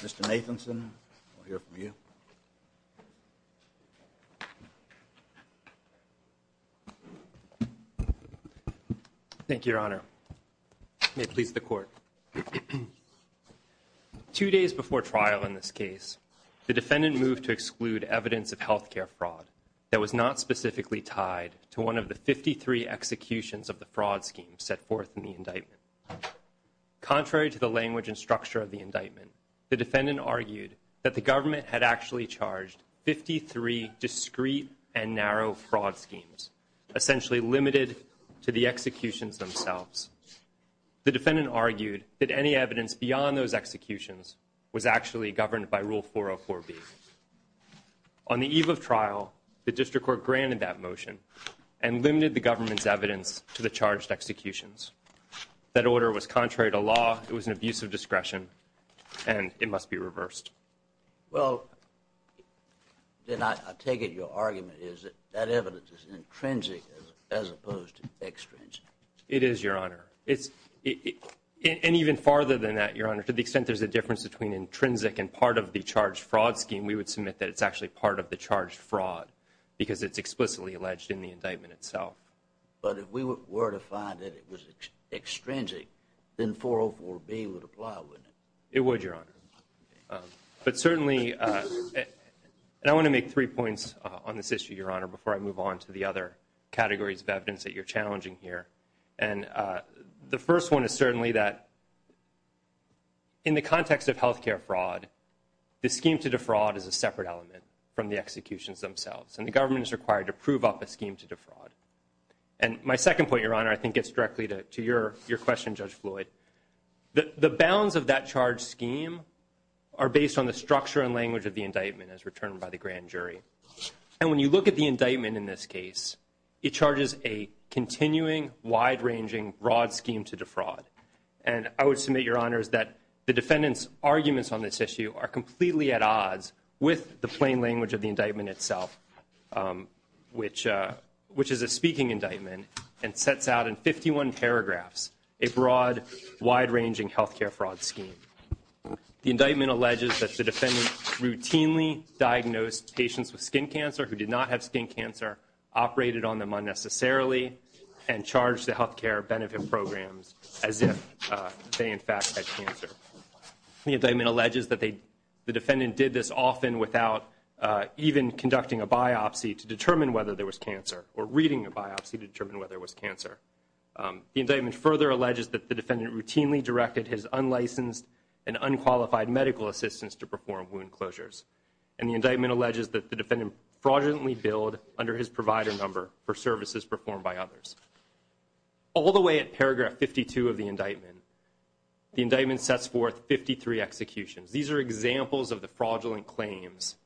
Mr. Nathanson, we'll hear from you. Thank you, your honor. May it please the court. Two days before trial in this case, the defendant moved to exclude evidence of health care fraud that was not specifically tied to one of the 53 executions of the fraud scheme set forth in the defendant argued that the government had actually charged 53 discreet and narrow fraud schemes, essentially limited to the executions themselves. The defendant argued that any evidence beyond those executions was actually governed by Rule 404B. On the eve of trial, the district court granted that motion and limited the government's evidence to the charged executions. That order was contrary to law, it was an abuse of discretion, and it must be reversed. Well, then I take it your argument is that that evidence is intrinsic as opposed to extrinsic. It is, your honor. And even farther than that, your honor, to the extent there's a difference between intrinsic and part of the charged fraud scheme, we would submit that it's actually part of the charged fraud because it's explicitly alleged in the indictment itself. But if we were to find that it was extrinsic, then 404B would apply, wouldn't it? It would, your honor. But certainly, and I want to make three points on this issue, your honor, before I move on to the other categories of evidence that you're challenging here. And the first one is certainly that in the context of health care fraud, the scheme to defraud is a separate element from the executions themselves, and the government is required to prove up a charge. And my second point, your honor, I think gets directly to your question, Judge Floyd. The bounds of that charge scheme are based on the structure and language of the indictment as returned by the grand jury. And when you look at the indictment in this case, it charges a continuing, wide-ranging, broad scheme to defraud. And I would submit, your honors, that the defendant's arguments on this issue are completely at odds with the plain language of the indictment itself, which is a speaking indictment and sets out in 51 paragraphs a broad, wide-ranging health care fraud scheme. The indictment alleges that the defendant routinely diagnosed patients with skin cancer who did not have skin cancer, operated on them unnecessarily, and charged the health care benefit programs as if they, in fact, had cancer. The indictment alleges that the defendant did this often without even conducting a biopsy to determine whether there was cancer or reading a biopsy to determine whether it was cancer. The indictment further alleges that the defendant routinely directed his unlicensed and unqualified medical assistance to perform wound closures. And the indictment alleges that the defendant fraudulently billed under his provider number for services performed by others. All the way at paragraph 52 of the indictment, the indictment sets forth 53 executions. These are examples of the fraudulent claims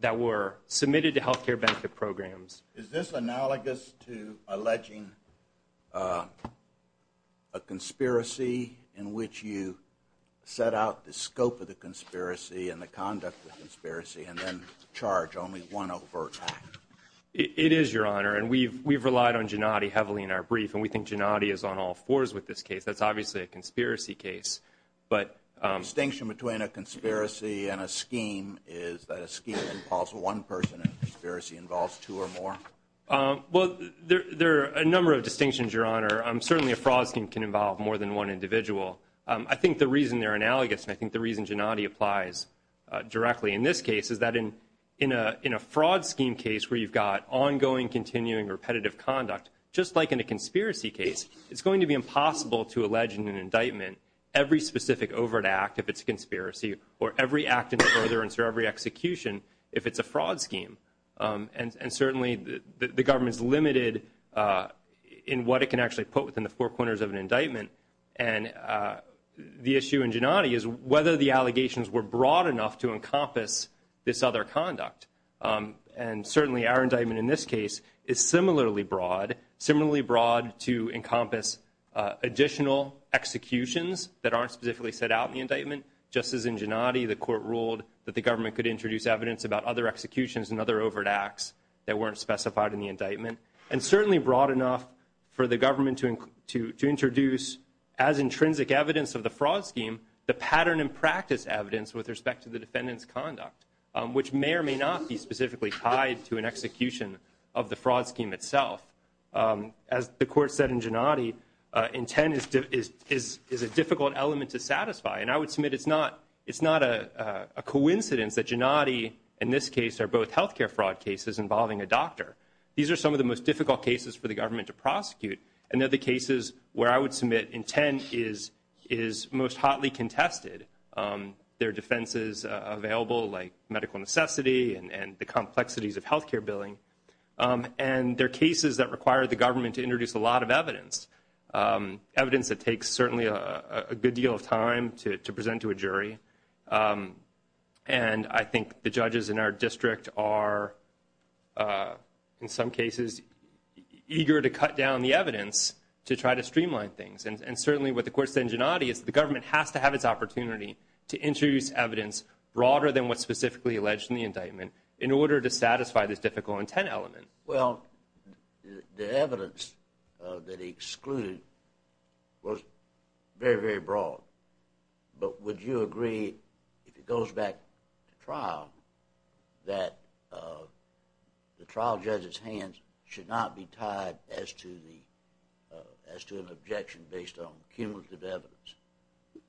that were submitted to health care benefit programs. Is this analogous to alleging a conspiracy in which you set out the scope of the conspiracy and the conduct of the conspiracy and then charge only one overt act? It is, Your Honor. And we've relied on Gennady heavily in our brief. And we think Gennady is on all fours with this case. That's obviously a conspiracy case. But The distinction between a conspiracy and a scheme is that a scheme involves one person and a conspiracy involves two or more? Well, there are a number of distinctions, Your Honor. Certainly, a fraud scheme can involve more than one individual. I think the reason they're analogous, and I think the reason Gennady applies directly in this case, is that in a fraud scheme case where you've got ongoing, continuing, repetitive conduct, just like in a conspiracy case, it's going to be impossible to allege in an indictment every specific overt act if it's a conspiracy, or every act in the ordinance or every execution if it's a fraud scheme. And certainly, the government's limited in what it can actually put within the four corners of an indictment. And the issue in Gennady is whether the allegations were broad enough to encompass this other conduct. And certainly, our indictment in this case is similarly broad, similarly broad to encompass additional executions that aren't specifically set out in the indictment. Just as in Gennady, the court ruled that the government could introduce evidence about other executions and other overt acts that weren't specified in the indictment. And certainly, broad enough for the government to introduce, as intrinsic evidence of the fraud scheme, the pattern and practice evidence with respect to the defendant's conduct, which may or may not be specifically tied to an execution of the fraud scheme itself. As the court said in Gennady, intent is a difficult element to satisfy. And I would submit it's not a coincidence that Gennady, in this case, are both healthcare fraud cases involving a doctor. These are some of the most difficult cases for the government to prosecute, and they're the cases where I would submit intent is most hotly contested. There are defenses available, like medical necessity and the complexities of healthcare billing. And there are cases that require the government to introduce a lot of evidence, evidence that takes certainly a good deal of time to present to a jury. And I think the judges in our district are, in some cases, eager to cut down the evidence to try to streamline things. And certainly, what the court said in Gennady is the government has to have its opportunity to introduce evidence broader than what's specifically alleged in the indictment in order to satisfy this difficult intent element. Well, the evidence that he excluded was very, very broad. But would you agree, if it goes back to trial, that the trial judge's hands should not be tied as to an objection based on cumulative evidence?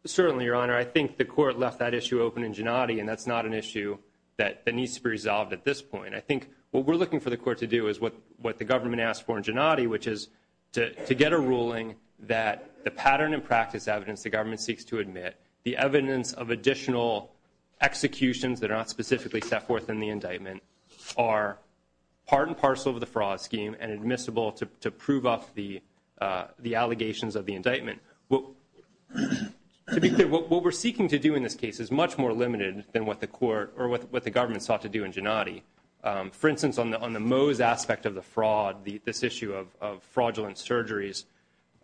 Certainly, Your Honor. I think the court left that issue open in Gennady, and that's not an issue that needs to be resolved at this point. I think what we're looking for the what the government asked for in Gennady, which is to get a ruling that the pattern and practice evidence the government seeks to admit, the evidence of additional executions that are not specifically set forth in the indictment, are part and parcel of the fraud scheme and admissible to prove off the allegations of the indictment. What we're seeking to do in this case is much more limited than what the court or what the government sought to do in Gennady. For instance, on the aspect of the fraud, this issue of fraudulent surgeries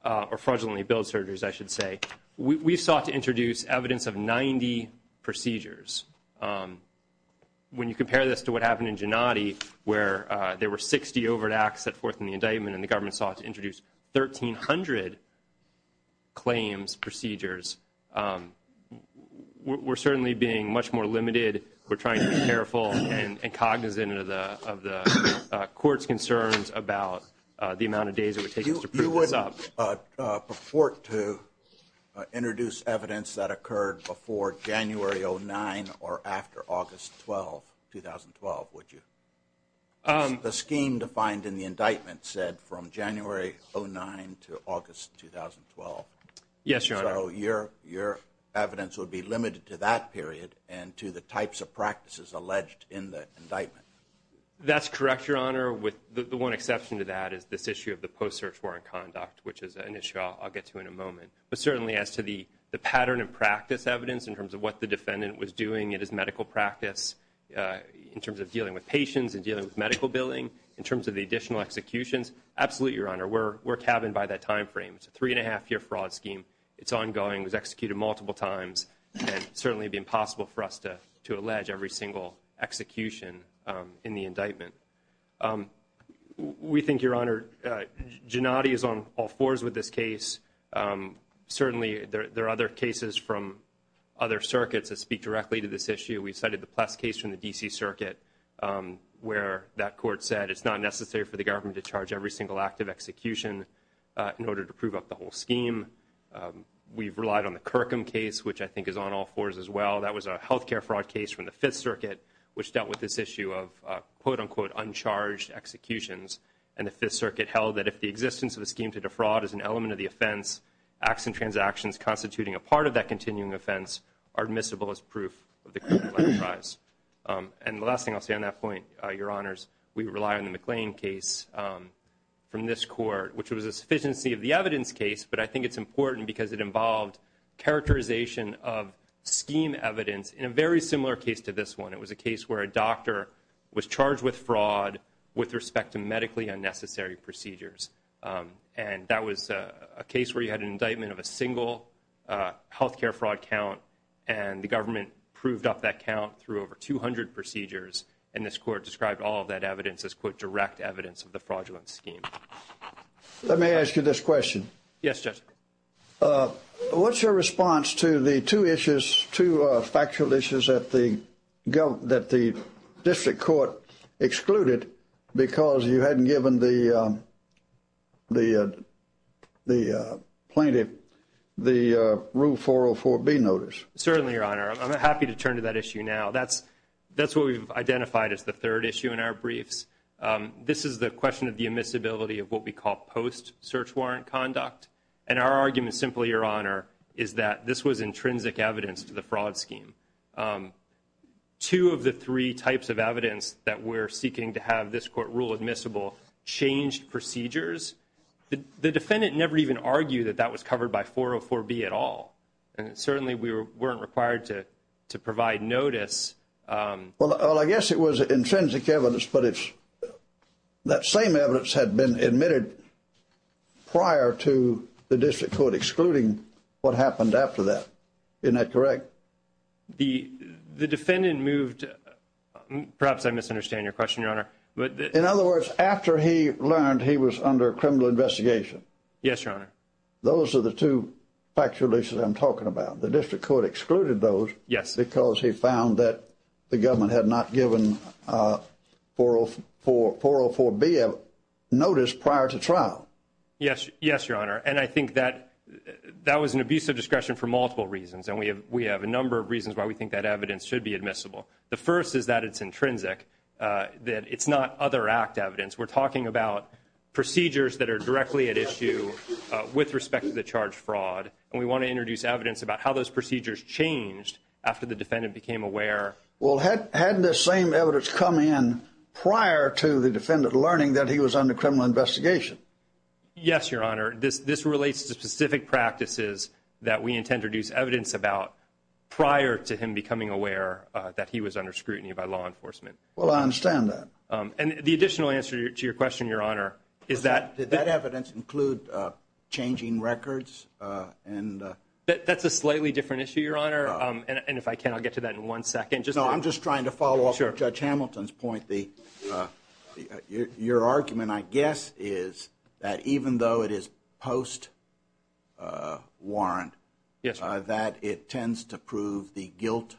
or fraudulently billed surgeries, I should say, we sought to introduce evidence of 90 procedures. When you compare this to what happened in Gennady, where there were 60 overt acts set forth in the indictment and the government sought to introduce 1,300 claims procedures, we're certainly being much more limited. We're trying to be careful and cognizant of the court's concerns about the amount of days it would take us to prove this up. You wouldn't purport to introduce evidence that occurred before January 09 or after August 12, 2012, would you? The scheme defined in the indictment said from January 09 to August 2012. Yes, Your Honor. So your evidence would be limited to that period and to the types of practices alleged in the indictment? That's correct, Your Honor, with the one exception to that is this issue of the post-search warrant conduct, which is an issue I'll get to in a moment. But certainly as to the pattern and practice evidence in terms of what the defendant was doing in his medical practice in terms of dealing with patients and dealing with medical billing, in terms of the additional executions, absolutely, Your Honor. We're cabined by that time frame. It's a three and a half year fraud scheme. It's ongoing. It was executed multiple times and certainly be impossible for us to to allege every single execution in the indictment. We think, Your Honor, Gennady is on all fours with this case. Certainly there are other cases from other circuits that speak directly to this issue. We cited the Pless case from the D.C. Circuit where that court said it's not necessary for the government to charge every single act of execution in order to prove up the whole scheme. We've relied on the Kirkham case, which I think is on all fours as well. That was a health care fraud case from the Fifth Circuit, which dealt with this issue of quote, unquote, uncharged executions. And the Fifth Circuit held that if the existence of a scheme to defraud is an element of the offense, acts and transactions constituting a part of that continuing offense are admissible as proof of the criminal enterprise. And the last thing I'll say on that point, Your Honors, we rely on McLean case from this court, which was a sufficiency of the evidence case. But I think it's important because it involved characterization of scheme evidence in a very similar case to this one. It was a case where a doctor was charged with fraud with respect to medically unnecessary procedures. And that was a case where you had an indictment of a single health care fraud count. And the government proved up that count through over 200 procedures. And this court described all that evidence as, quote, direct evidence of the fraudulent scheme. Let me ask you this question. Yes, Judge. What's your response to the two issues, two factual issues that the district court excluded because you hadn't given the plaintiff the rule 404B notice? Certainly, Your Honor. I'm happy to turn to that issue now. That's what we've identified as the fraudulent briefs. This is the question of the admissibility of what we call post-search warrant conduct. And our argument, simply, Your Honor, is that this was intrinsic evidence to the fraud scheme. Two of the three types of evidence that we're seeking to have this court rule admissible changed procedures. The defendant never even argued that that was covered by 404B at all. And certainly we weren't required to provide notice. Well, I guess it was intrinsic evidence, but it's that same evidence had been admitted prior to the district court excluding what happened after that. Isn't that correct? The defendant moved, perhaps I misunderstand your question, Your Honor. In other words, after he learned he was under criminal investigation. Yes, Your Honor. Those are the two factual issues I'm talking about. The district court excluded those because he found that the government had not given 404B a notice prior to trial. Yes, Your Honor. And I think that was an abuse of discretion for multiple reasons. And we have a number of reasons why we think that evidence should be admissible. The first is that it's intrinsic, that it's not other act evidence. We're talking about procedures that are directly at issue with respect to the charge fraud. And we want to introduce evidence about how those procedures changed after the defendant became aware. Well, hadn't the same evidence come in prior to the defendant learning that he was under criminal investigation? Yes, Your Honor. This relates to specific practices that we intend to introduce evidence about prior to him becoming aware that he was under scrutiny by law enforcement. Well, I understand that. And the additional answer to your question, Your Honor, is that... Did that evidence include changing records? That's a slightly different issue, Your Honor. And if I can, I'll get to that in one second. No, I'm just trying to follow up on Judge Hamilton's point. Your argument, I guess, is that even though it is post-warrant, that it tends to prove the guilt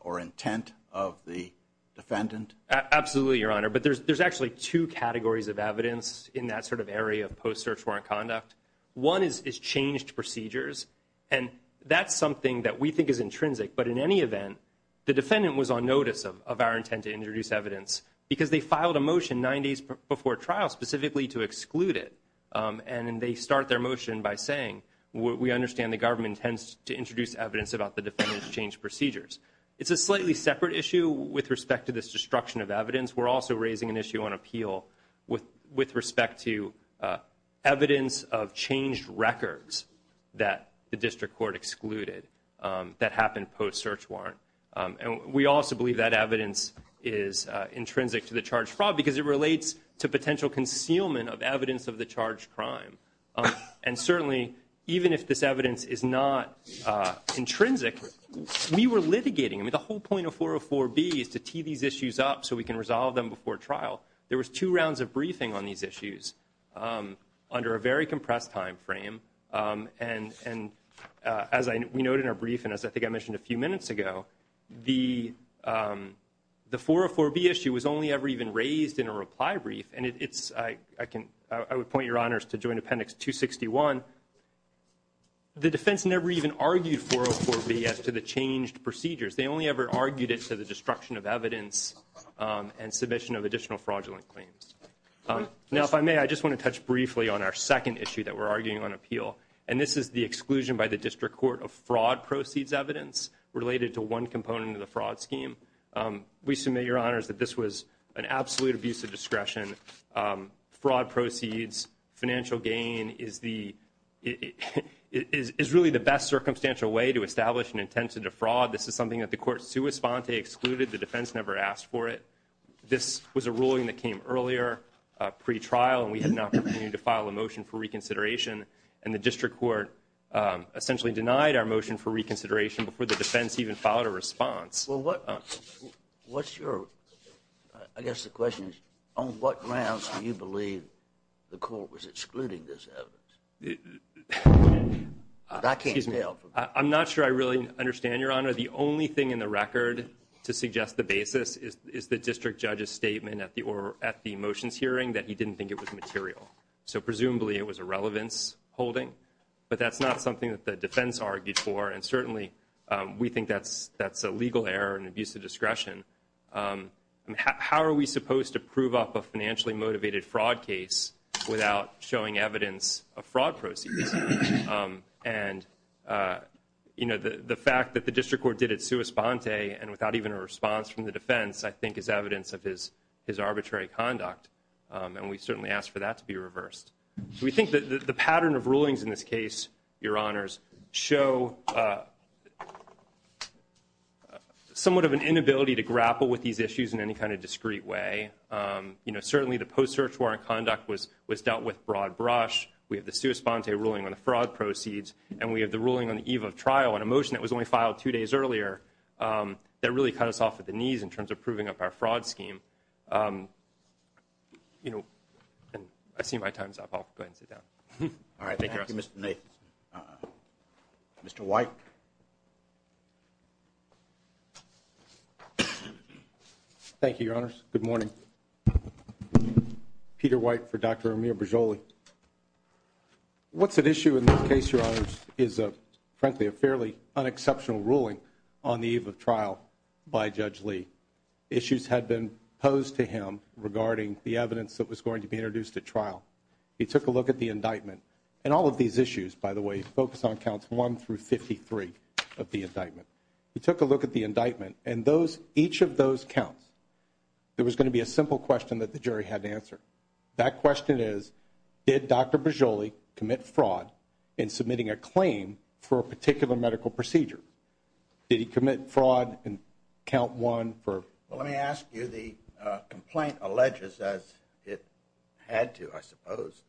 or intent of the defendant? Absolutely, Your Honor. But there's actually two categories of evidence in that sort of area of post-search warrant conduct. One is changed procedures. And that's something that we think is intrinsic. But in any event, the defendant was on notice of our intent to introduce evidence because they filed a motion nine days before trial specifically to exclude it. And they start their motion by saying, we understand the government tends to introduce evidence about the defendant's changed procedures. It's a slightly separate issue with respect to this destruction of evidence. We're also raising an issue on appeal with respect to evidence of changed records that the district court excluded that happened post-search warrant. And we also believe that evidence is intrinsic to the charge fraud because it relates to potential concealment of evidence of the charged crime. And certainly, even if this evidence is not intrinsic, we were litigating. I mean, the whole point of 404B is to tee these issues up so we can resolve them before trial. There was two rounds of briefing on these issues under a very compressed time frame. And as we noted in our brief, and as I think I mentioned a few minutes ago, the 404B issue was only ever even raised in a reply brief. And I would point your honors to joint appendix 261. The defense never even argued 404B as to the changed procedures. They only ever argued it to the destruction of evidence and submission of additional fraudulent claims. Now, if I may, I just want to touch briefly on our second issue that we're arguing on appeal. And this is the exclusion by the district court of fraud proceeds evidence related to one component of the fraud scheme. We submit your honors that this was an absolute abuse of financial gain is really the best circumstantial way to establish an intent to defraud. This is something that the court sua sponte excluded. The defense never asked for it. This was a ruling that came earlier, pre-trial, and we had an opportunity to file a motion for reconsideration. And the district court essentially denied our motion for reconsideration before the defense even filed a response. Well, I guess the question is, on what grounds do you believe the court was excluding this evidence? I'm not sure I really understand, your honor. The only thing in the record to suggest the basis is the district judge's statement at the motions hearing that he didn't think it was material. So presumably, it was a relevance holding. But that's not something that the defense argued for. And certainly, we think that's a legal error and abuse of discretion. How are we supposed to prove up a financially motivated fraud case without showing evidence of fraud proceeds? And you know, the fact that the district court did it sua sponte and without even a response from the defense, I think is evidence of his arbitrary conduct. And we certainly ask for that to be reversed. We think that the pattern of rulings in this case, your honors, show a somewhat of an inability to grapple with these issues in any kind of discrete way. You know, certainly the post-search warrant conduct was dealt with broad brush. We have the sua sponte ruling on the fraud proceeds. And we have the ruling on the eve of trial on a motion that was only filed two days earlier that really cut us off at the knees in terms of proving up our fraud scheme. You know, and I see my time's up. I'll go ahead and sit down. All right. Thank you, Mr. Nathan. Mr. White. Thank you, your honors. Good morning. Peter White for Dr. Amir Berzolli. What's at issue in this case, your honors, is frankly a fairly unexceptional ruling on the eve of trial by Judge Lee. Issues had been posed to him regarding the evidence that was going to be introduced at trial. He took a look at the indictment. And all of these issues, by the way, focus on counts one through 53 of the indictment. He took a look at the indictment and those, each of those counts, there was going to be a simple question that the jury had to answer. That question is, did Dr. Berzolli commit fraud in submitting a claim for a particular medical procedure? Did he commit fraud in count one for? Well, let me ask you, the complaint alleges as it had to, I suppose,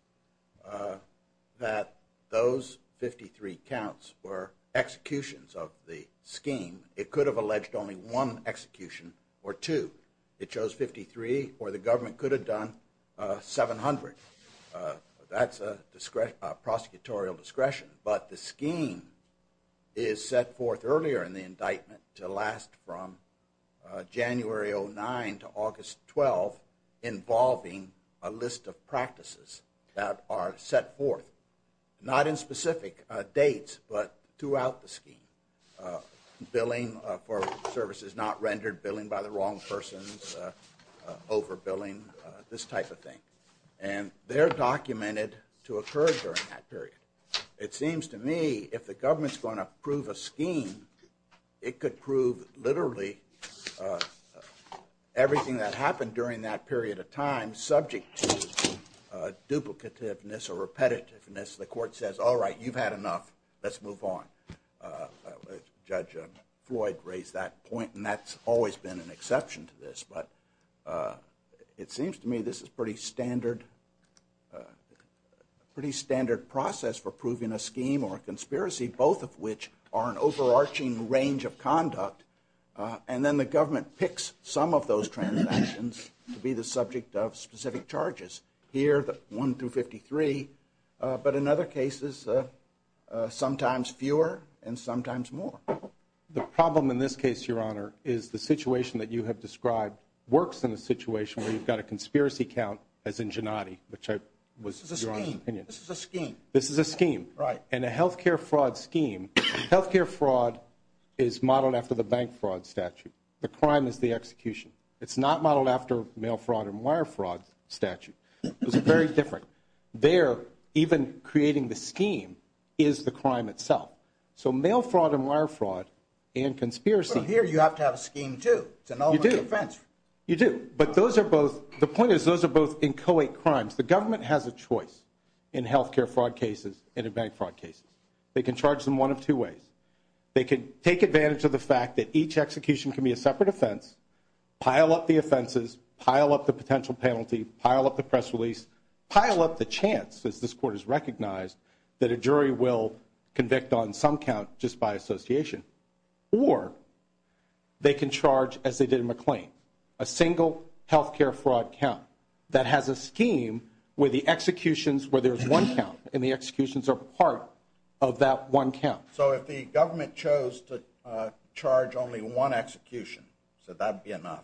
that those 53 counts were executions of the scheme. It could have alleged only one execution or two. It chose 53 or the government could have done 700. That's a discretion, a prosecutorial discretion. But the scheme is set forth earlier in the indictment to last from January 09 to August 12, involving a list of practices that are set forth, not in specific dates, but throughout the scheme. Billing for services not rendered, billing by the wrong persons, overbilling, this type of thing. And they're documented to occur during that period. It seems to me if the government's going to prove a scheme, it could prove literally everything that happened during that period of time subject to duplicativeness or repetitiveness. The court says, all right, you've had enough. Let's move on. Judge Floyd raised that point and that's always been an exception to this. But it seems to me this is pretty standard, pretty standard process for proving a scheme or a conspiracy, both of which are an overarching range of conduct. And then the government picks some of those transactions to be the subject of specific charges. Here, one through 53. But in other cases, sometimes fewer and sometimes more. The problem in this case, Your Honor, is the situation that you have described works in a situation where you've got a conspiracy count as ingenuity, which I was... This is a scheme. This is a scheme. This is a scheme. Right. And a health care fraud scheme, health care fraud is modeled after the bank fraud statute. The crime is the execution. It's not modeled after mail fraud and wire fraud statute. It's very different. There, even creating the scheme is the crime itself. So mail fraud and wire fraud and conspiracy... The point is those are both inchoate crimes. The government has a choice in health care fraud cases and in bank fraud cases. They can charge them one of two ways. They can take advantage of the fact that each execution can be a separate offense, pile up the offenses, pile up the potential penalty, pile up the press release, pile up the chance, as this court has recognized, that a jury will convict on some count just by association. Or they can charge as they did in McLean. A single health care fraud count that has a scheme where the executions, where there's one count, and the executions are part of that one count. So if the government chose to charge only one execution, so that'd be enough,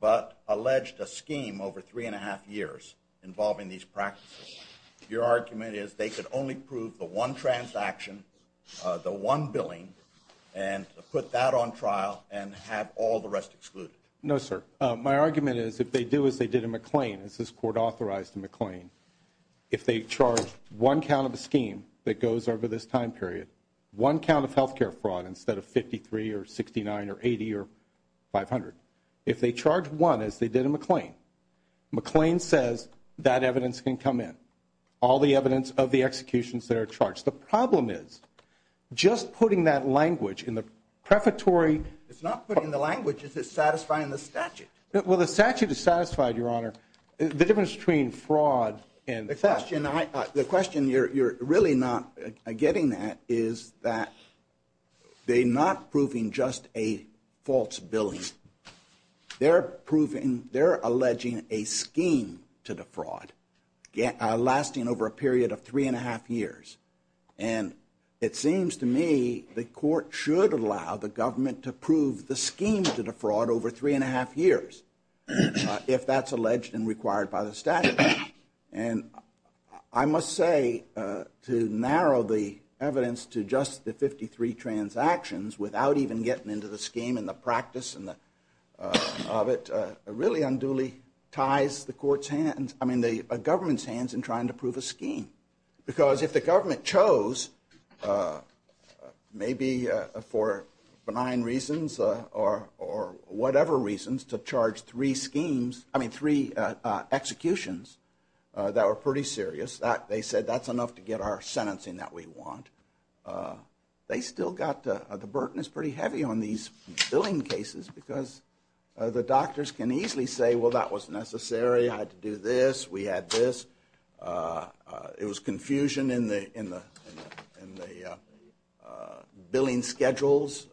but alleged a scheme over three and a half years involving these practices, your argument is they could only prove the one transaction, the one billing, and put that on as they did in McLean, as this court authorized in McLean. If they charge one count of a scheme that goes over this time period, one count of health care fraud instead of 53 or 69 or 80 or 500, if they charge one as they did in McLean, McLean says that evidence can come in, all the evidence of the executions that are charged. The problem is just putting that language in the prefatory... It's not putting the language, it's satisfying the statute. Well, the statute is satisfied, your honor. The difference between fraud and theft... The question you're really not getting at is that they're not proving just a false billing. They're proving, they're alleging a scheme to defraud lasting over a period of three and a half years. And it seems to me the court should allow the government to prove the scheme to defraud over three and a half years if that's alleged and required by the statute. And I must say to narrow the evidence to just the 53 transactions without even getting into the scheme and the practice of it really unduly ties the government's hands in trying to prove a scheme. Because if the government chose maybe for benign reasons or whatever reasons to charge three schemes, I mean three executions that were pretty serious, that they said that's enough to get our sentencing that we want. They still got the burden is pretty heavy on these billing cases because the doctors can easily say, well that was necessary, I had to do this, we had this. It was confusion in the billing schedules.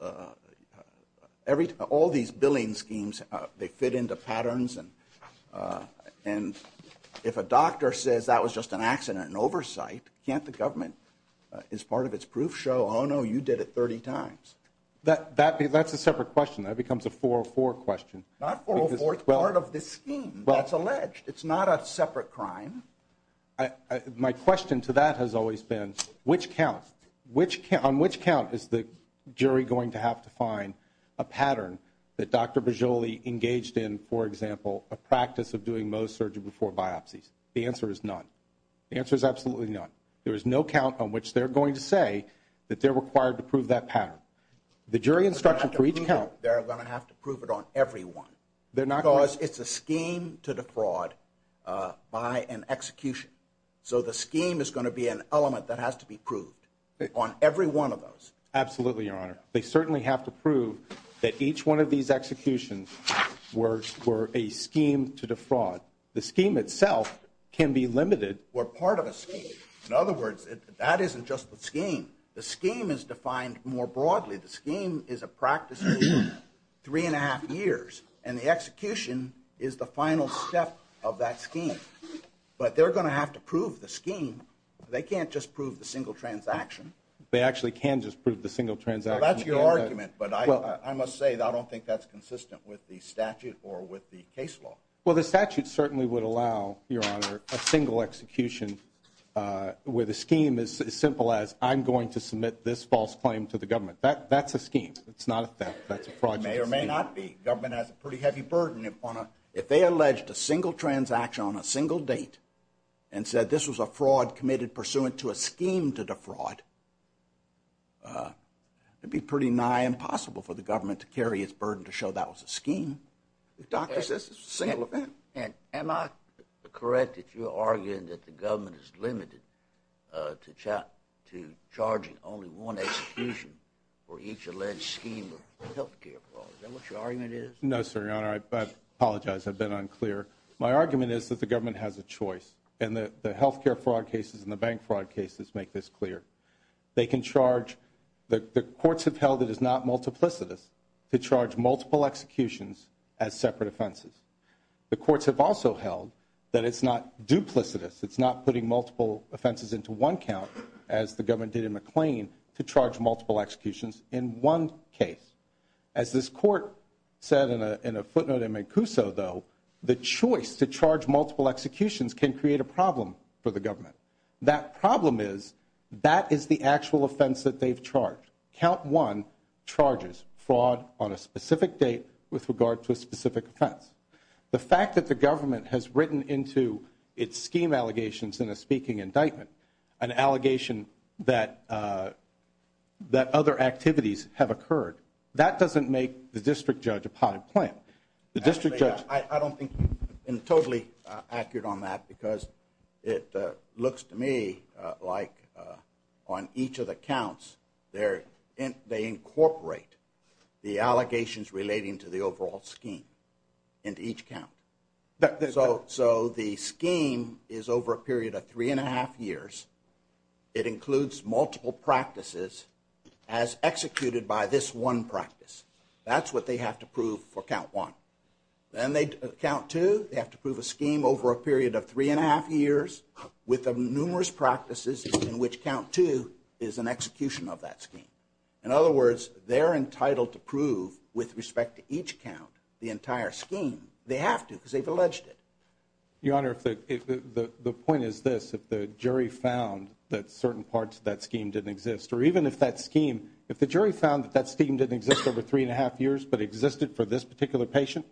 All these billing schemes, they fit into patterns. And if a doctor says that was just an accident in oversight, can't the government as part of Not for a fourth part of the scheme that's alleged. It's not a separate crime. My question to that has always been, which count? On which count is the jury going to have to find a pattern that Dr. Boggioli engaged in, for example, a practice of doing most surgery before biopsies? The answer is none. The answer is absolutely none. There is no count on which they're going to say that they're required to prove that pattern. The jury instruction for each every one. Because it's a scheme to defraud by an execution. So the scheme is going to be an element that has to be proved on every one of those. Absolutely, your honor. They certainly have to prove that each one of these executions were a scheme to defraud. The scheme itself can be limited. We're part of a scheme. In other words, that isn't just the scheme. The scheme is defined more broadly. The scheme is a practice three and a half years and the execution is the final step of that scheme. But they're going to have to prove the scheme. They can't just prove the single transaction. They actually can just prove the single transaction. That's your argument. But I must say that I don't think that's consistent with the statute or with the case law. Well, the statute certainly would allow, your honor, a single execution where the scheme is as simple as I'm going to submit this false claim to the government. That's a scheme. It's not a theft. That's a fraud. It may or may not be. Government has a pretty heavy burden. If they alleged a single transaction on a single date and said this was a fraud committed pursuant to a scheme to defraud, it'd be pretty nigh impossible for the government to carry its burden to show that was a scheme. The doctor says it's a single event. And am I correct that you're saying that the government is limited to charging only one execution for each alleged scheme or health care fraud? Is that what your argument is? No, sir, your honor. I apologize. I've been unclear. My argument is that the government has a choice and the health care fraud cases and the bank fraud cases make this clear. They can charge. The courts have held it is not multiplicitous to charge multiple executions as separate offenses. The courts have also held that it's not duplicitous. It's not putting multiple offenses into one count, as the government did in McLean, to charge multiple executions in one case. As this court said in a footnote in Mancuso, though, the choice to charge multiple executions can create a problem for the government. That problem is that is the actual offense that they've charged. Count one charges fraud on a specific date with regard to a specific offense. The fact that the government has written into its scheme allegations in a speaking indictment an allegation that other activities have occurred, that doesn't make the district judge a potted plant. I don't think you've been totally accurate on that because it looks to me like on each of the counts, they incorporate the allegations relating to the overall scheme into each count. So the scheme is over a period of three and a half years. It includes multiple practices as executed by this one practice. That's what they have to prove for count one. Then they count two, they have to prove a scheme over a period of three and a half years with the numerous practices in which count two is an execution of that scheme. In other words, they're entitled to prove with respect to each count, the entire scheme, they have to because they've alleged it. Your Honor, if the point is this, if the jury found that certain parts of that scheme didn't exist, or even if that scheme, if the jury found that scheme didn't exist over three and a half years, but existed for this particular patient,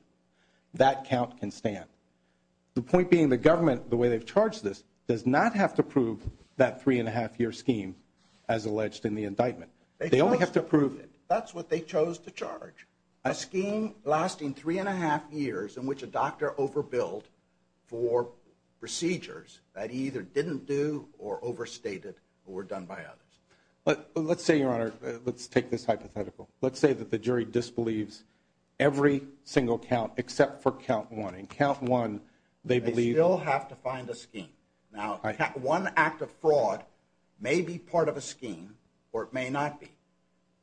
that count can stand. The point being the government, the way they've charged this, does not have to prove that three and a half year scheme as alleged in the indictment. They only have to prove it. That's what they chose to charge. A scheme lasting three and a half years in which a doctor overbilled for procedures that either didn't do or overstated or were done by others. But let's say, Your Honor, let's take this hypothetical. Let's say that the jury disbelieves every single count except for count one. In count one, they believe- They still have to find a scheme. Now, one act of fraud may be part of a scheme, or it may not be.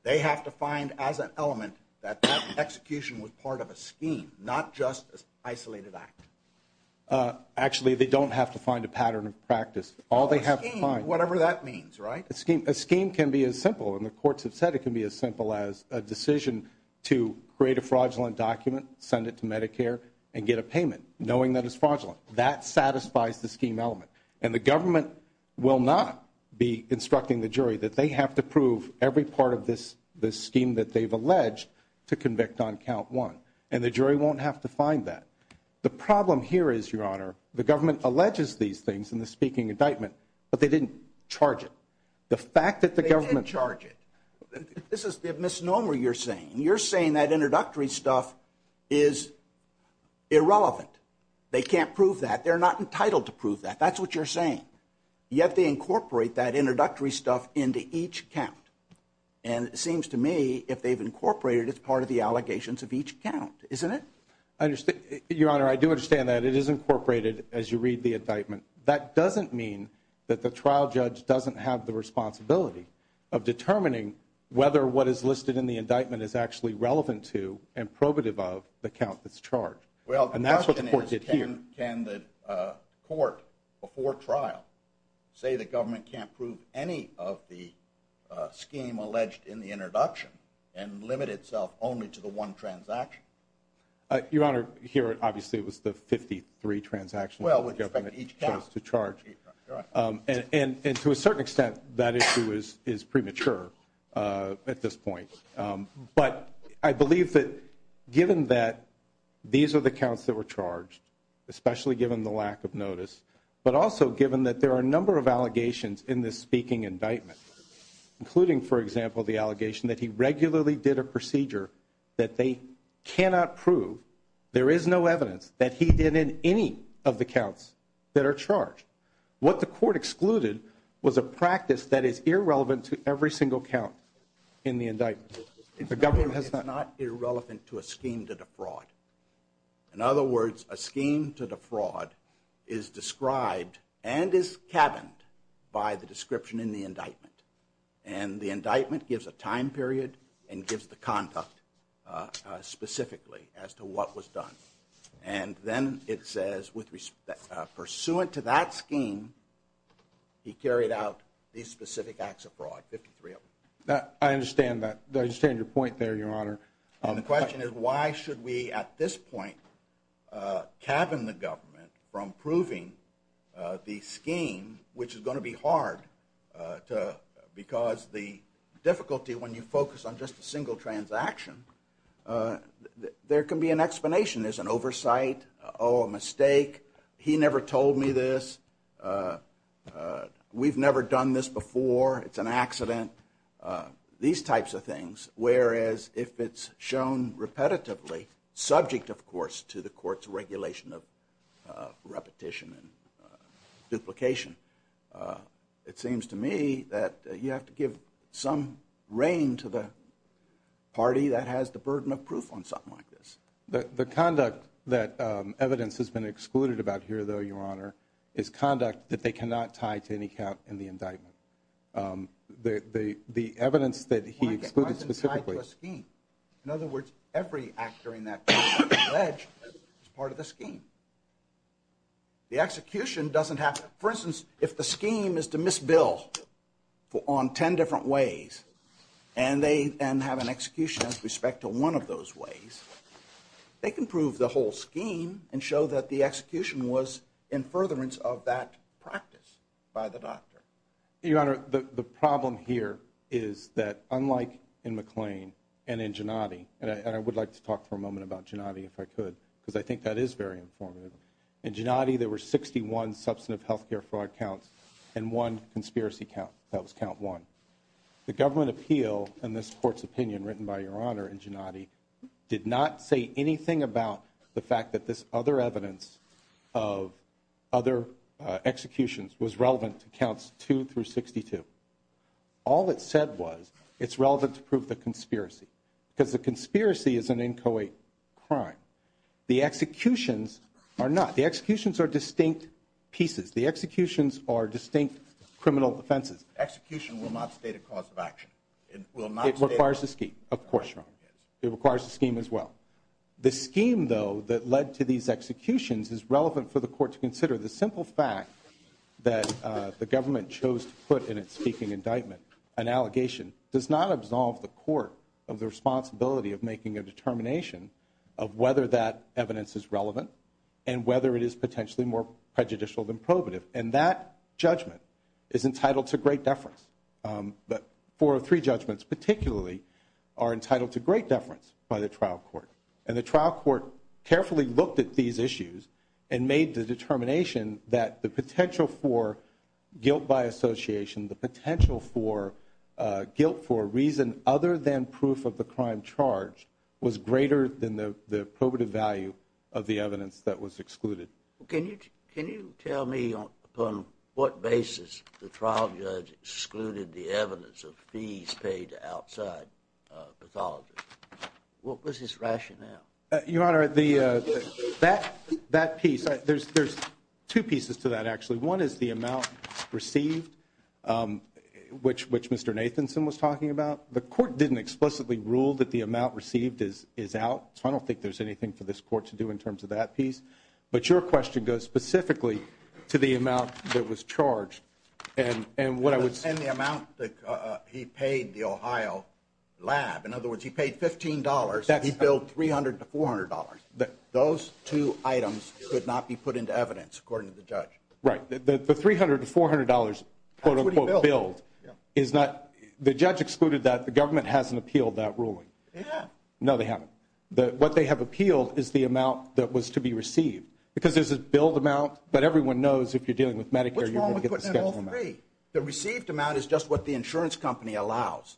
They have to find as an element that that execution was part of a scheme, not just an isolated act. Actually, they don't have to find a pattern of practice. All they have to find- A scheme, whatever that means, right? A scheme can be as simple, and the courts have said it can be as simple as a decision to create a fraudulent document, send it to Medicare, and get a payment, knowing that it's fraudulent. That satisfies the scheme element. And the government will not be instructing the jury that they have to prove every part of this scheme that they've alleged to convict on count one. And the jury won't have to find that. The problem here is, Your Honor, the government alleges these things in the speaking indictment, but they didn't charge it. The fact that the government- They didn't charge it. This is the misnomer you're saying. You're saying that introductory stuff is irrelevant. They can't prove that. They're not entitled to prove that. That's what you're saying. You have to incorporate that introductory stuff into each count. And it seems to me, if they've incorporated it, it's part of the allegations of each count, isn't it? Your Honor, I do understand that. It is that the trial judge doesn't have the responsibility of determining whether what is listed in the indictment is actually relevant to and probative of the count that's charged. And that's what the court did here. Well, the question is, can the court before trial say the government can't prove any of the scheme alleged in the introduction and limit itself only to the one transaction? Your Honor, here, obviously, it was the 53 transactions that the government chose to charge. And to a certain extent, that issue is premature at this point. But I believe that given that these are the counts that were charged, especially given the lack of notice, but also given that there are a number of allegations in this speaking indictment, including, for example, the allegation that he regularly did a procedure that they cannot prove. There is no evidence that he did in any of the counts that are charged. What the court excluded was a practice that is irrelevant to every single count in the indictment. The government has not... It's not irrelevant to a scheme to defraud. In other words, a scheme to defraud is described and is cabined by the description in the indictment. And the indictment gives a time period and gives the conduct specifically as to what was done. And then it says, pursuant to that scheme, he carried out these specific acts of fraud, 53 of them. I understand that. I understand your point there, Your Honor. And the question is why should we, at this point, cabin the government from proving the scheme, which is going to be hard because the difficulty when you focus on just a single transaction, there can be an explanation. There's an oversight. Oh, a mistake. He never told me this. We've never done this before. It's an accident. These types of things, whereas if it's shown repetitively, subject, of course, to the court's regulation of repetition and duplication, it seems to me that you have to some reign to the party that has the burden of proof on something like this. The conduct that evidence has been excluded about here, though, Your Honor, is conduct that they cannot tie to any count in the indictment. The evidence that he excluded specifically. Why is it tied to a scheme? In other words, every act during that time is alleged as part of the scheme. The execution doesn't have to. For instance, if the scheme is to miss bill on 10 different ways and they have an execution with respect to one of those ways, they can prove the whole scheme and show that the execution was in furtherance of that practice by the doctor. Your Honor, the problem here is that unlike in McLean and in Gennady, and I would like to talk for a moment about Gennady if I could, because I think that is very informative. In Gennady, there were 61 substantive health care fraud counts and one conspiracy count. That was count one. The government appeal and this court's opinion written by Your Honor in Gennady did not say anything about the fact that this other evidence of other executions was relevant to counts two through 62. All it said was it's relevant to The executions are distinct pieces. The executions are distinct criminal offenses. Execution will not state a cause of action. It will not. It requires a scheme. Of course, it requires a scheme as well. The scheme, though, that led to these executions is relevant for the court to consider the simple fact that the government chose to put in its speaking indictment an allegation does not absolve the court of the responsibility of making a determination of whether that evidence is relevant and whether it is potentially more prejudicial than probative. And that judgment is entitled to great deference. But four or three judgments, particularly, are entitled to great deference by the trial court. And the trial court carefully looked at these issues and made the determination that the potential for guilt by association, the potential for guilt for a reason other than proof of the crime charge was greater than the probative value of the evidence that was excluded. Can you can you tell me on what basis the trial judge excluded the evidence of fees paid outside pathology? What was his rationale? Your Honor, the that that piece, there's there's two pieces to that, actually. One is the amount received, which which Mr. Nathanson was talking about. The court didn't explicitly rule that the amount received is is out. I don't think there's anything for this court to do in terms of that piece. But your question goes specifically to the amount that was charged and and what I would say. And the amount that he paid the Ohio lab. In other words, he paid fifteen dollars that he billed three hundred to four hundred dollars that those two items could not be put into evidence, according to the judge. Right. The three hundred to four hundred dollars, quote unquote, billed is not the judge excluded that the government hasn't appealed that ruling. Yeah, no, they haven't. The what they have appealed is the amount that was to be received because there's a billed amount. But everyone knows if you're dealing with Medicare, you're going to get all three. The received amount is just what the insurance company allows.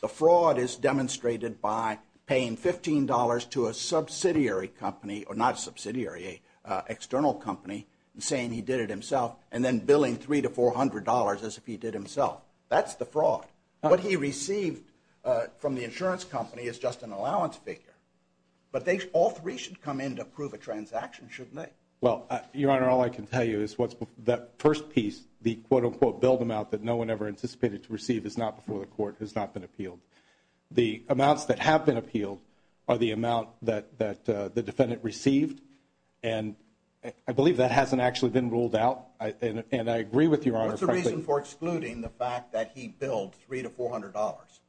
The fraud is demonstrated by paying fifteen dollars to a subsidiary company or not subsidiary external company and saying he did it himself and then billing three to four hundred dollars as if he did himself. That's the fraud. What he received from the insurance company is just an allowance figure. But they all three should come in to prove a transaction, shouldn't they? Well, your honor, all I can tell you is what's that first piece, the quote unquote billed amount that no one ever anticipated to receive is not before the court has not been appealed. The amounts that have been appealed are the amount that that the defendant received. And I believe that hasn't actually been ruled out. And I agree with you on the reason for excluding the fact that he billed three to four hundred dollars.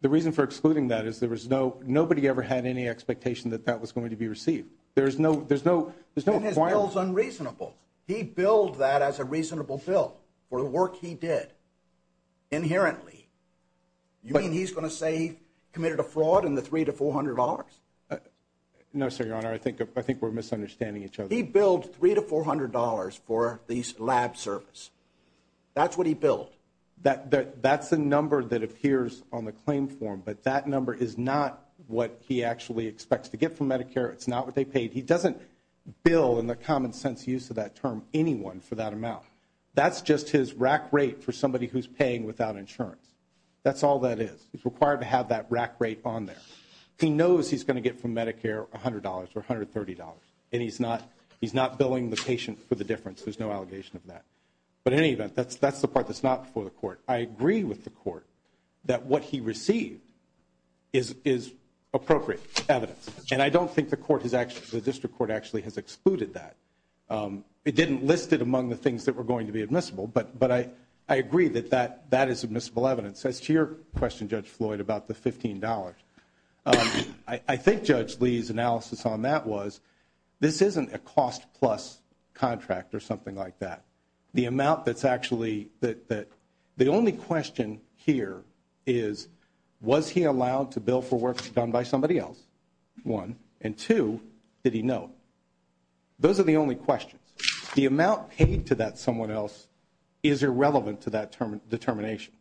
The reason for excluding that is there was no nobody ever had any expectation that that was going to be received. There is no there's no there's no one else unreasonable. He billed that as a reasonable bill for the work he did inherently. You mean he's going to say committed a fraud in the three to four hundred dollars? No, sir. Your honor, I think I think we're misunderstanding each other. He billed three to four hundred dollars for these lab service. That's what he billed. That that's the number that appears on the claim form. But that number is not what he actually expects to get from Medicare. It's not what they paid. He doesn't bill in the common sense use of that term anyone for that amount. That's just his rack rate for somebody who's paying without insurance. That's all that is. He's required to have that rack rate on there. He knows he's going to get from Medicare one hundred dollars or one hundred thirty dollars. And he's not he's not billing the patient for the difference. There's no allegation of that. But in any event, that's that's the part that's not for the court. I agree with the court that what he received is is appropriate evidence. And I don't think the court has actually the district court actually has excluded that. It didn't list it among the things that were going to be admissible. But but I I agree that that that is admissible evidence. As to your question, Judge Floyd, about the fifteen dollars, I think Judge Lee's analysis on that was this isn't a cost plus contract or something like that. The amount that's actually that that the only question here is, was he allowed to bill for work done by somebody else? One. And two, did he know? Those are the only questions. The amount paid to that someone else is irrelevant to that term determination.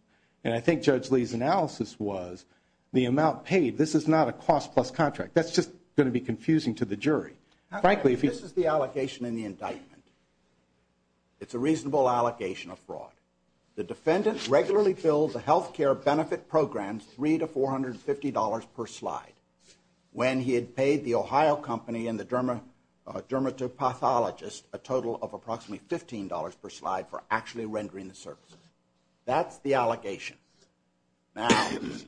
And I think Judge Lee's analysis was the amount paid. This is not a cost plus contract. That's just going to be confusing to the jury. Frankly, if this is the allocation in the indictment. It's a reasonable allegation of fraud. The defendant regularly filled the health care benefit program three to four hundred fifty dollars per slide when he had paid the Ohio company and the German dermatopathologist a total of approximately fifteen dollars per slide for actually rendering the service. That's the allegation. Now,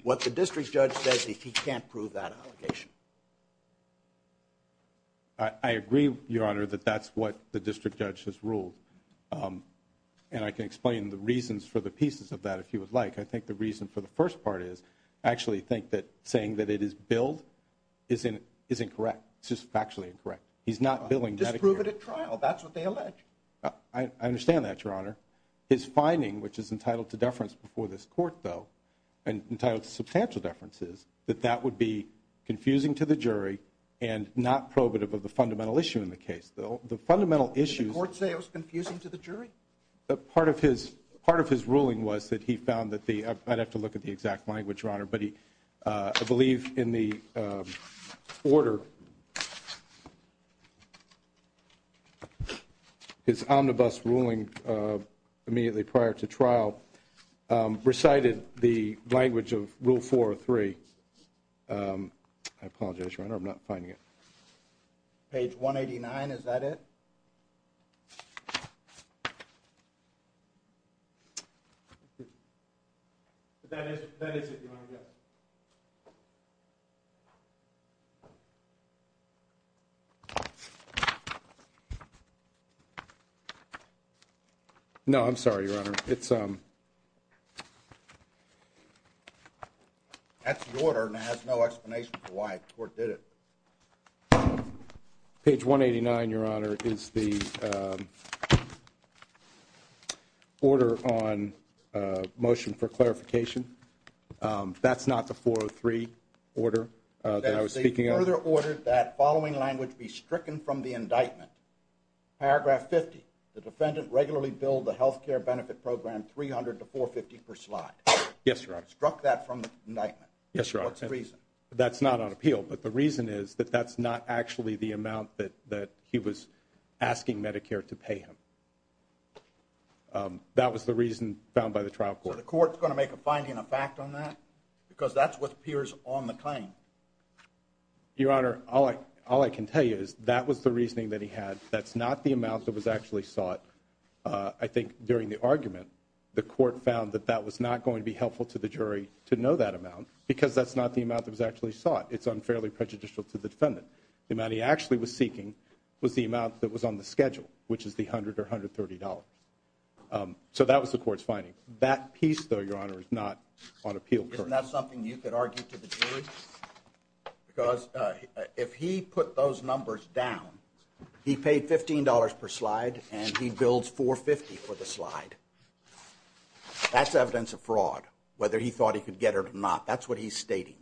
what the district judge says, he can't prove that allegation. I agree, Your Honor, that that's what the district judge has ruled, and I can explain the reasons for the pieces of that, if you would like. I think the reason for the first part is I actually think that saying that it is billed isn't correct. It's just factually incorrect. He's not billing. Just prove it at trial. That's what they allege. I understand that, Your Honor. His finding, which is entitled to deference before this court, though, and entitled to substantial deference, is that that would be confusing to the jury and not probative of the fundamental issue in the case. The fundamental issue, the court say, was confusing to the jury. Part of his ruling was that he found that the, I'd have to look at the exact language, Your Honor, but he, I believe in the order, his omnibus ruling immediately prior to trial recited the language of rule four or three. I apologize, Your Honor, I'm not finding it. Page 189, is that it? That is, that is it, Your Honor, yes. No, I'm sorry, Your Honor. It's, um, that's the order and it has no explanation for why the court did it. Um, page 189, Your Honor, is the, um, order on, uh, motion for clarification. Um, that's not the 403 order that I was speaking of. They further ordered that following language be stricken from the indictment. Paragraph 50, the defendant regularly billed the health care benefit program 300 to 450 per slide. Yes, Your Honor. Struck that from the indictment. Yes, Your Honor. What's the reason? That's not on appeal, but the reason is that that's not actually the amount that, that he was asking Medicare to pay him. Um, that was the reason found by the trial court. So the court's going to make a finding a fact on that because that's what appears on the claim. Your Honor, all I, all I can tell you is that was the reasoning that he had. That's not the amount that was actually sought. Uh, I think during the argument, the court found that that was not going to be helpful to the jury to know that amount because that's not the amount that was actually sought. It's unfairly prejudicial to the defendant. The amount he actually was seeking was the amount that was on the schedule, which is the hundred or $130. Um, so that was the court's finding that piece though, Your Honor is not on appeal. That's something you could argue to the jury because if he put those numbers down, he paid $15 per slide and he builds four 50 for the slide. That's evidence of fraud, whether he thought he could get it or not. That's what he's stating.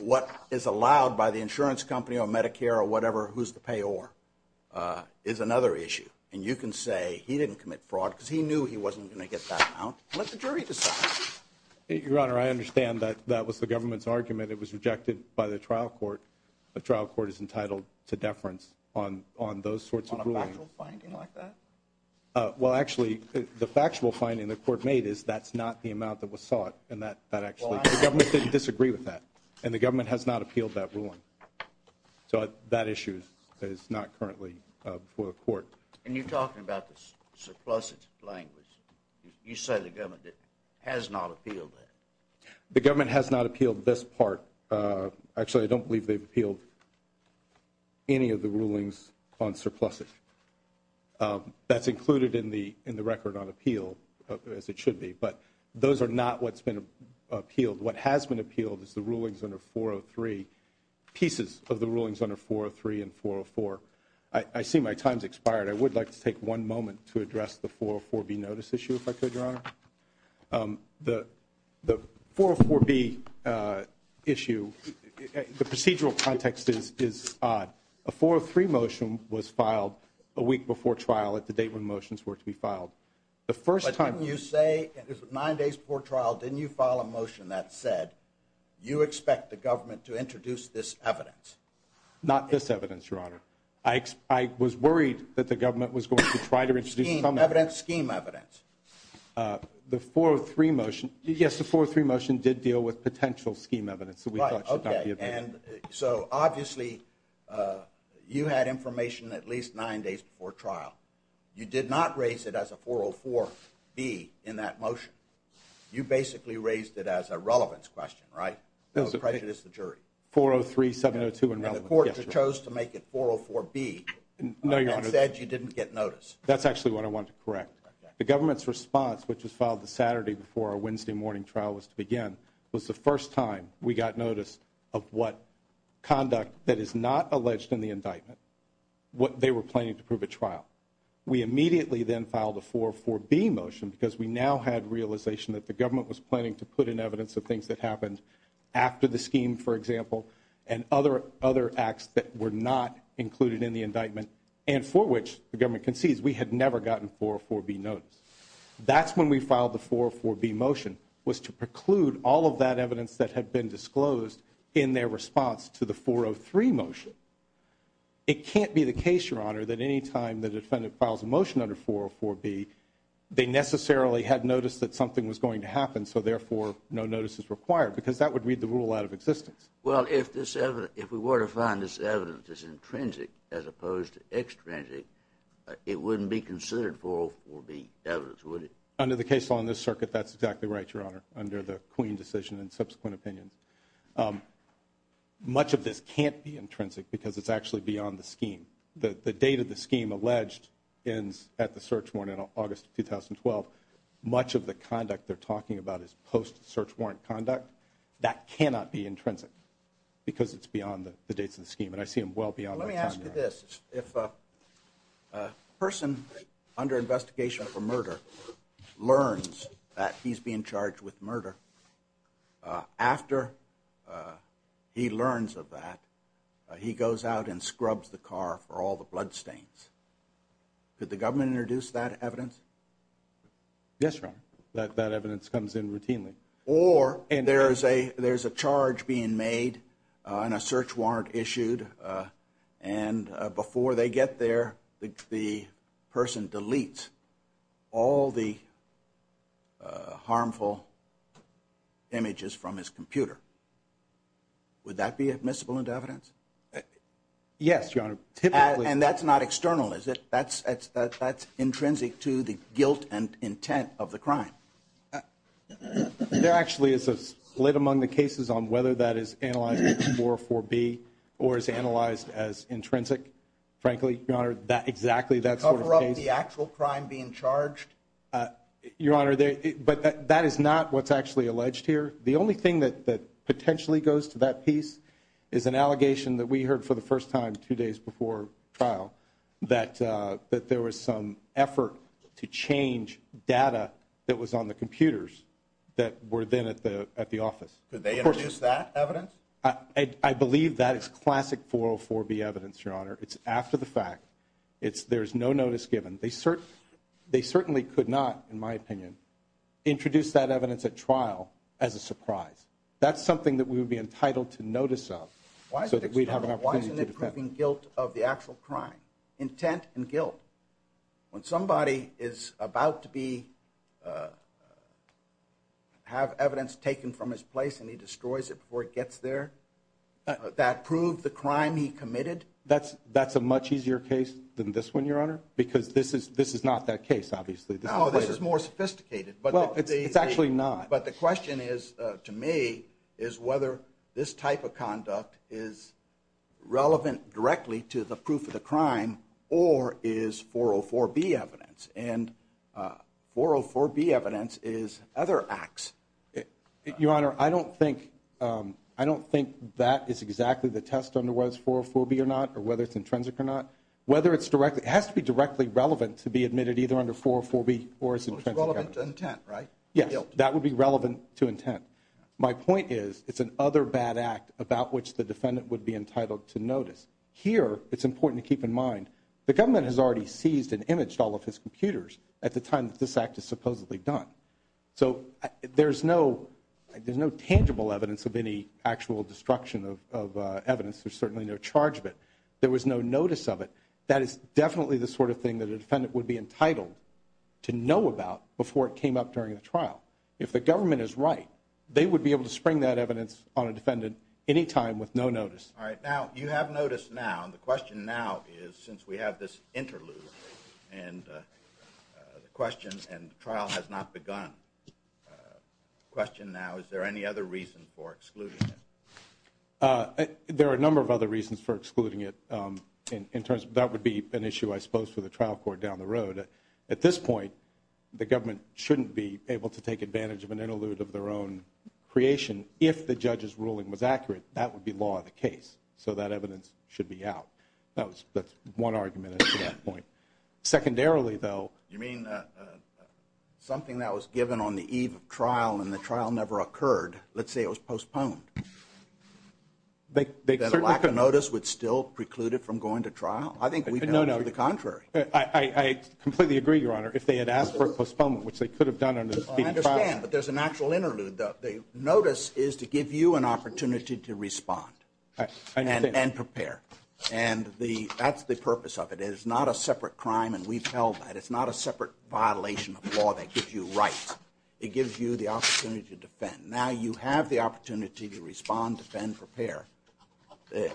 What is allowed by the insurance company or Medicare or whatever, who's the payor, uh, is another issue. And you can say he didn't commit fraud because he knew he wasn't going to get that out. Let the jury decide. Your Honor, I understand that that was the government's argument. It was rejected by the trial court. The trial court is entitled to deference on, on those sorts of rulings. Well, actually the factual finding the court made is that's not the amount that was sought. And that, that actually, the government didn't disagree with that and the government has not appealed that ruling. So that issue is not currently for the court. And you're talking about the surpluses language. You said the government has not appealed that. The government has not appealed this part. Uh, actually I don't believe they've on surpluses. Um, that's included in the, in the record on appeal as it should be, but those are not what's been appealed. What has been appealed is the rulings under four Oh three pieces of the rulings under four Oh three and four Oh four. I see my time's expired. I would like to take one moment to address the four Oh four B notice issue if I could, Your Honor. Um, the, the four B uh, issue, the procedural context is, is odd. A four Oh three motion was filed a week before trial at the date when motions were to be filed. The first time you say nine days before trial, didn't you file a motion that said you expect the government to introduce this evidence? Not this evidence, Your Honor. I, I was worried that the government was going to try to deal with potential scheme evidence that we thought should not be. And so obviously, uh, you had information at least nine days before trial. You did not raise it as a four Oh four B in that motion. You basically raised it as a relevance question, right? No prejudice. The jury four Oh three seven Oh two and the court chose to make it four Oh four B and said you didn't get notice. That's actually what I want to correct. The government's response, which was filed the was the first time we got notice of what conduct that is not alleged in the indictment, what they were planning to prove at trial. We immediately then filed a four Oh four B motion because we now had realization that the government was planning to put in evidence of things that happened after the scheme, for example, and other, other acts that were not included in the indictment and for which the government concedes we had never gotten four Oh four B That's when we filed the four four B motion was to preclude all of that evidence that had been disclosed in their response to the four Oh three motion. It can't be the case, Your Honor, that any time the defendant files a motion under four four B, they necessarily had noticed that something was going to happen. So therefore, no notice is required because that would read the rule out of existence. Well, if this if we were to find this evidence is intrinsic as opposed to evidence, would it under the case on this circuit? That's exactly right, Your Honor. Under the queen decision and subsequent opinions. Um, much of this can't be intrinsic because it's actually beyond the scheme. The date of the scheme alleged ends at the search warrant in August 2012. Much of the conduct they're talking about is post search warrant conduct that cannot be intrinsic because it's beyond the dates of the scheme. And I see him well beyond. Let me ask you this. If a person under investigation for murder learns that he's being charged with murder after he learns of that, he goes out and scrubs the car for all the bloodstains. Could the government introduce that evidence? Yes, Your Honor. That evidence comes in routinely. Or there's a there's a charge being made on a search warrant issued. And before they get there, the person deletes all the harmful images from his computer. Would that be admissible and evidence? Yes, Your Honor. And that's not external, is it? That's that's that's intrinsic to the guilt and there actually is a split among the cases on whether that is analyzed for four B or is analyzed as intrinsic. Frankly, Your Honor, that exactly that's the actual crime being charged, Your Honor. But that is not what's actually alleged here. The only thing that potentially goes to that piece is an allegation that we heard for the first time two days before trial that that there was some to change data that was on the computers that were then at the at the office. Could they produce that evidence? I believe that is classic for four B evidence, Your Honor. It's after the fact it's there's no notice given. They certainly they certainly could not, in my opinion, introduce that evidence at trial as a surprise. That's something that we would be entitled to notice of why so that we'd have an opportunity to defend guilt of the actual crime, intent and guilt. When somebody is about to be have evidence taken from his place and he destroys it before it gets there, that proved the crime he committed. That's that's a much easier case than this one, Your Honor, because this is this is not that case. Obviously, this is more sophisticated, but it's actually not. But the question is, to me, is whether this type of conduct is relevant directly to the proof of the crime or is 404 B evidence and 404 B evidence is other acts. Your Honor, I don't think I don't think that is exactly the test under was 404 B or not or whether it's intrinsic or not, whether it's directly has to be directly relevant to be intent, right? Yeah, that would be relevant to intent. My point is it's an other bad act about which the defendant would be entitled to notice. Here, it's important to keep in mind the government has already seized and imaged all of his computers at the time that this act is supposedly done. So there's no there's no tangible evidence of any actual destruction of evidence. There's certainly no charge of it. There was no notice of it. That is definitely the sort of thing that a defendant would be entitled to know about before it came up during the trial. If the government is right, they would be able to spring that evidence on a defendant anytime with no notice. All right. Now you have noticed now. The question now is, since we have this interlude and the question and trial has not begun. Question now, is there any other reason for excluding it? There are a number of other reasons for excluding it in terms of that would be an issue, I suppose, for the trial court down the road. At this point, the government shouldn't be able to take advantage of an interlude of their own creation. If the judge's ruling was accurate, that would be law of the case. So that evidence should be out. That was one argument at that point. Secondarily, though, you mean something that was given on the eve of trial and the trial never occurred. Let's say it was postponed. They could notice would still preclude it from going to trial. I think we know the contrary. I completely agree, Your Honor. If they had asked for a postponement, which they could have done, and I understand, but there's an actual interlude that they notice is to give you an opportunity to respond and prepare. And the that's the purpose of it is not a separate crime. And we've held that it's not a separate violation of law that gives you rights. It gives you the opportunity to defend. Now you have the opportunity to respond, defend, prepare.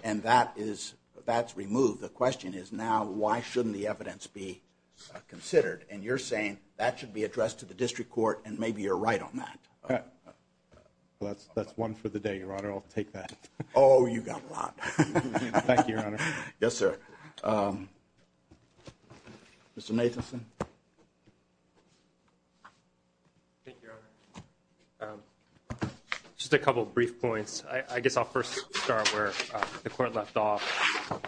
And that is that's removed. The question is now, why shouldn't the evidence be considered? And you're saying that should be addressed to the district court. And maybe you're right on that. That's that's one for the day, Your Honor. I'll take that. Oh, you got a thank you, Your Honor. Yes, sir. Mr. Matheson. Thank you, Your Honor. Just a couple of brief points. I guess I'll first start where the court left off.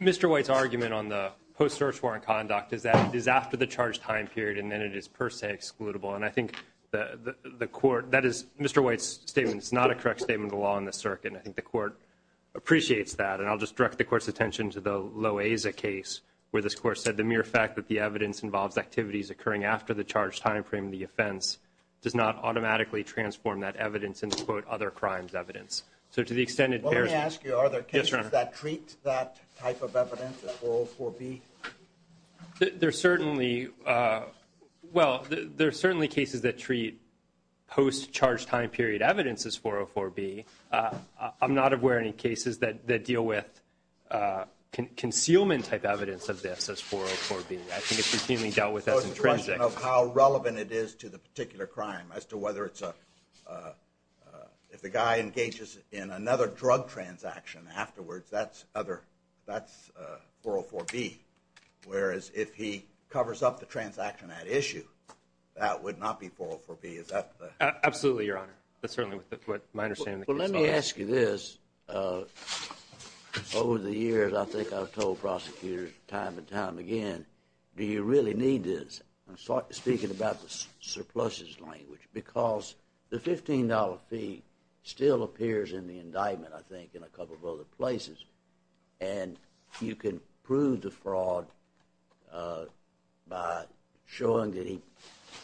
Mr. White's argument on the post search warrant conduct is that it is after the charge time period and then it is per se excludable. And I think the court that is Mr. White's statement. It's not a correct statement of the law in the circuit. And I think the court appreciates that. And I'll just direct the court's attention to the Loaiza case where this court said the mere fact that the evidence involves activities occurring after the charge time frame of the offense does not automatically transform that evidence into quote other crimes evidence. So to the extent it bears. Let me ask you, are there cases that treat that type of evidence as 404B? There's certainly well, there's certainly cases that treat post charge time period evidence as 404B. I'm not aware of any cases that deal with concealment type evidence of this as 404B. I think it's routinely dealt with as intrinsic of how relevant it is to the particular crime as to whether it's a if the guy engages in another drug transaction afterwards, that's other that's 404B. Whereas if he covers up the transaction at issue, that would not be 404B. Absolutely, Your Honor. That's certainly what my understanding. Well, let me ask you this. Over the years, I think I've told prosecutors time and time again, do you really need this? I'm speaking about the surpluses language because the $15 fee still appears in the indictment, I think, in a couple of other places. And you can prove the fraud by showing that he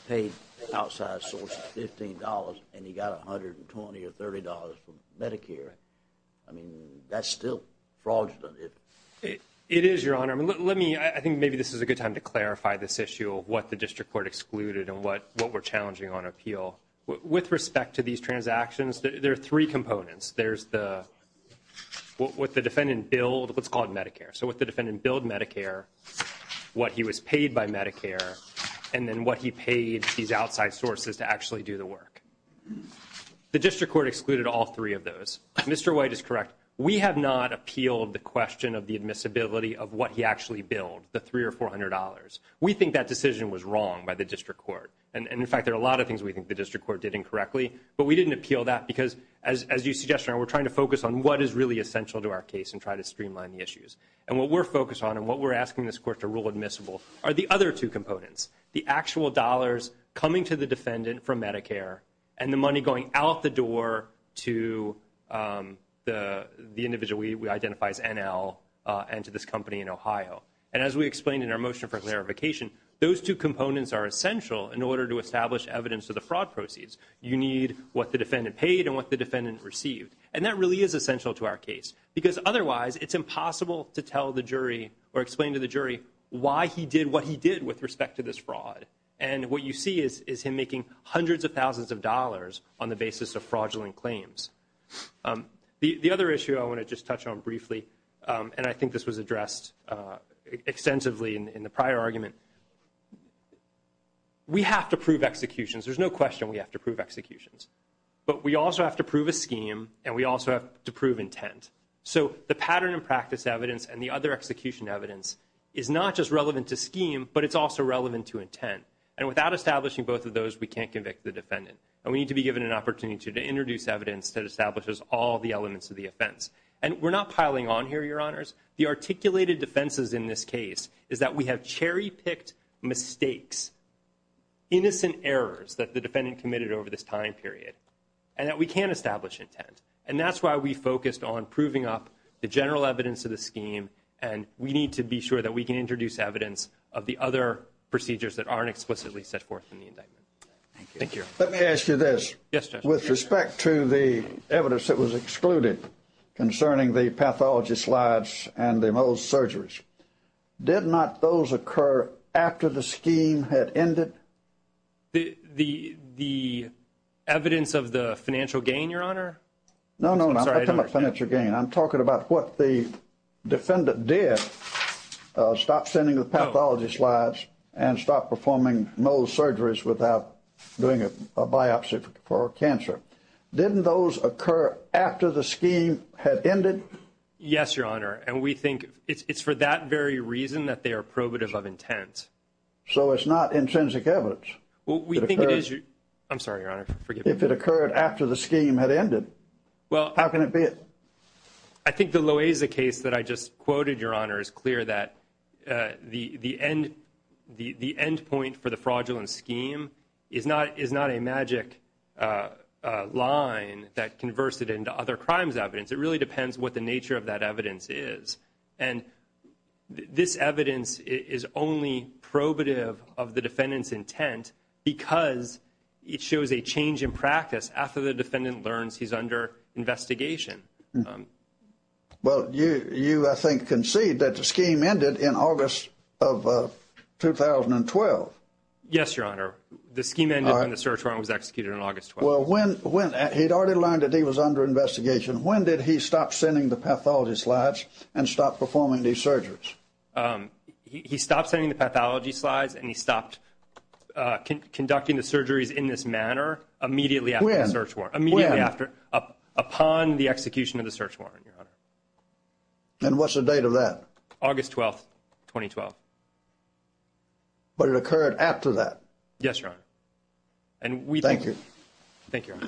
paid outside sources $15 and he got $120 or $30 from Medicare. I mean, that's still fraudulent. It is, Your Honor. I mean, let me, I think maybe this is a good time to clarify this issue of what the district court excluded and what we're challenging on appeal. With respect to these transactions, there are three components. There's the what the defendant billed, what's called Medicare. So what the defendant billed Medicare, what he was paid by Medicare, and then what he paid these outside sources to actually do the work. The district court excluded all three of those. Mr. White is correct. We have not appealed the question of the admissibility of what he actually billed, the $300 or $400. We think that decision was wrong by the district court. And in fact, there are a lot of things we think the district court did incorrectly, but we didn't appeal that because as you suggested, we're trying to focus on what is really essential to our case and try to streamline the issues. And what we're focused on and what we're asking this court to rule admissible are the other two components, the actual dollars coming to the defendant from Medicare and the money going out the door to the individual we identify as NL and to this company in Ohio. And as we explained in our motion for clarification, those two components are essential in order to establish evidence to the fraud proceeds. You need what the defendant paid and what the defendant received. And that really is essential to our case because otherwise it's impossible to tell the jury or explain to the jury why he did what he did with respect to this fraud. And what you see is him making hundreds of thousands of dollars on the basis of fraudulent claims. The other issue I want to just touch on briefly, and I think this was addressed extensively in the prior argument, we have to prove executions. There's no question we have to prove executions. But we also have to prove a scheme and we also have to prove intent. So the pattern and practice evidence and the other execution evidence is not just relevant to scheme, but it's also relevant to intent. And without establishing both of those, we can't convict the defendant. And we need to be given an opportunity to introduce evidence that establishes all the elements of the offense. And we're not piling on here, your honors. The articulated defenses in this case is that we and that we can establish intent. And that's why we focused on proving up the general evidence of the scheme. And we need to be sure that we can introduce evidence of the other procedures that aren't explicitly set forth in the indictment. Thank you. Let me ask you this. Yes. With respect to the evidence that was excluded concerning the pathology slides and the most surgeries, did not those occur after the scheme had ended the the the evidence of the financial gain, your honor? No, no, no financial gain. I'm talking about what the defendant did. Stop sending the pathology slides and stop performing no surgeries without doing a biopsy for cancer. Didn't those occur after the scheme had ended? Yes, your honor. And we think it's for that very reason that they are probative of intent. So it's not intrinsic evidence. Well, we think it is. I'm sorry, your honor. Forgive me if it occurred after the scheme had ended. Well, how can it be? I think the low is a case that I just quoted. Your honor is clear that the the end the the end point for the fraudulent scheme is not is not a magic line that converse into other crimes evidence. It really depends what the nature of that evidence is. And this evidence is only probative of the defendant's intent because it shows a change in practice after the defendant learns he's under investigation. Well, you you I think concede that the scheme ended in August of 2012. Yes, your honor. The scheme and the search warrant was executed in August. Well, when when he'd already learned that he was under investigation, when did he stop sending the pathology slides and stop performing these surgeries? He stopped sending the pathology slides and he stopped conducting the surgeries in this manner immediately after a search warrant, immediately after upon the execution of the search warrant, your honor. And what's the date of that? August 12th, 2012. But it occurred after that? Yes, your honor. And we thank you. Thank you.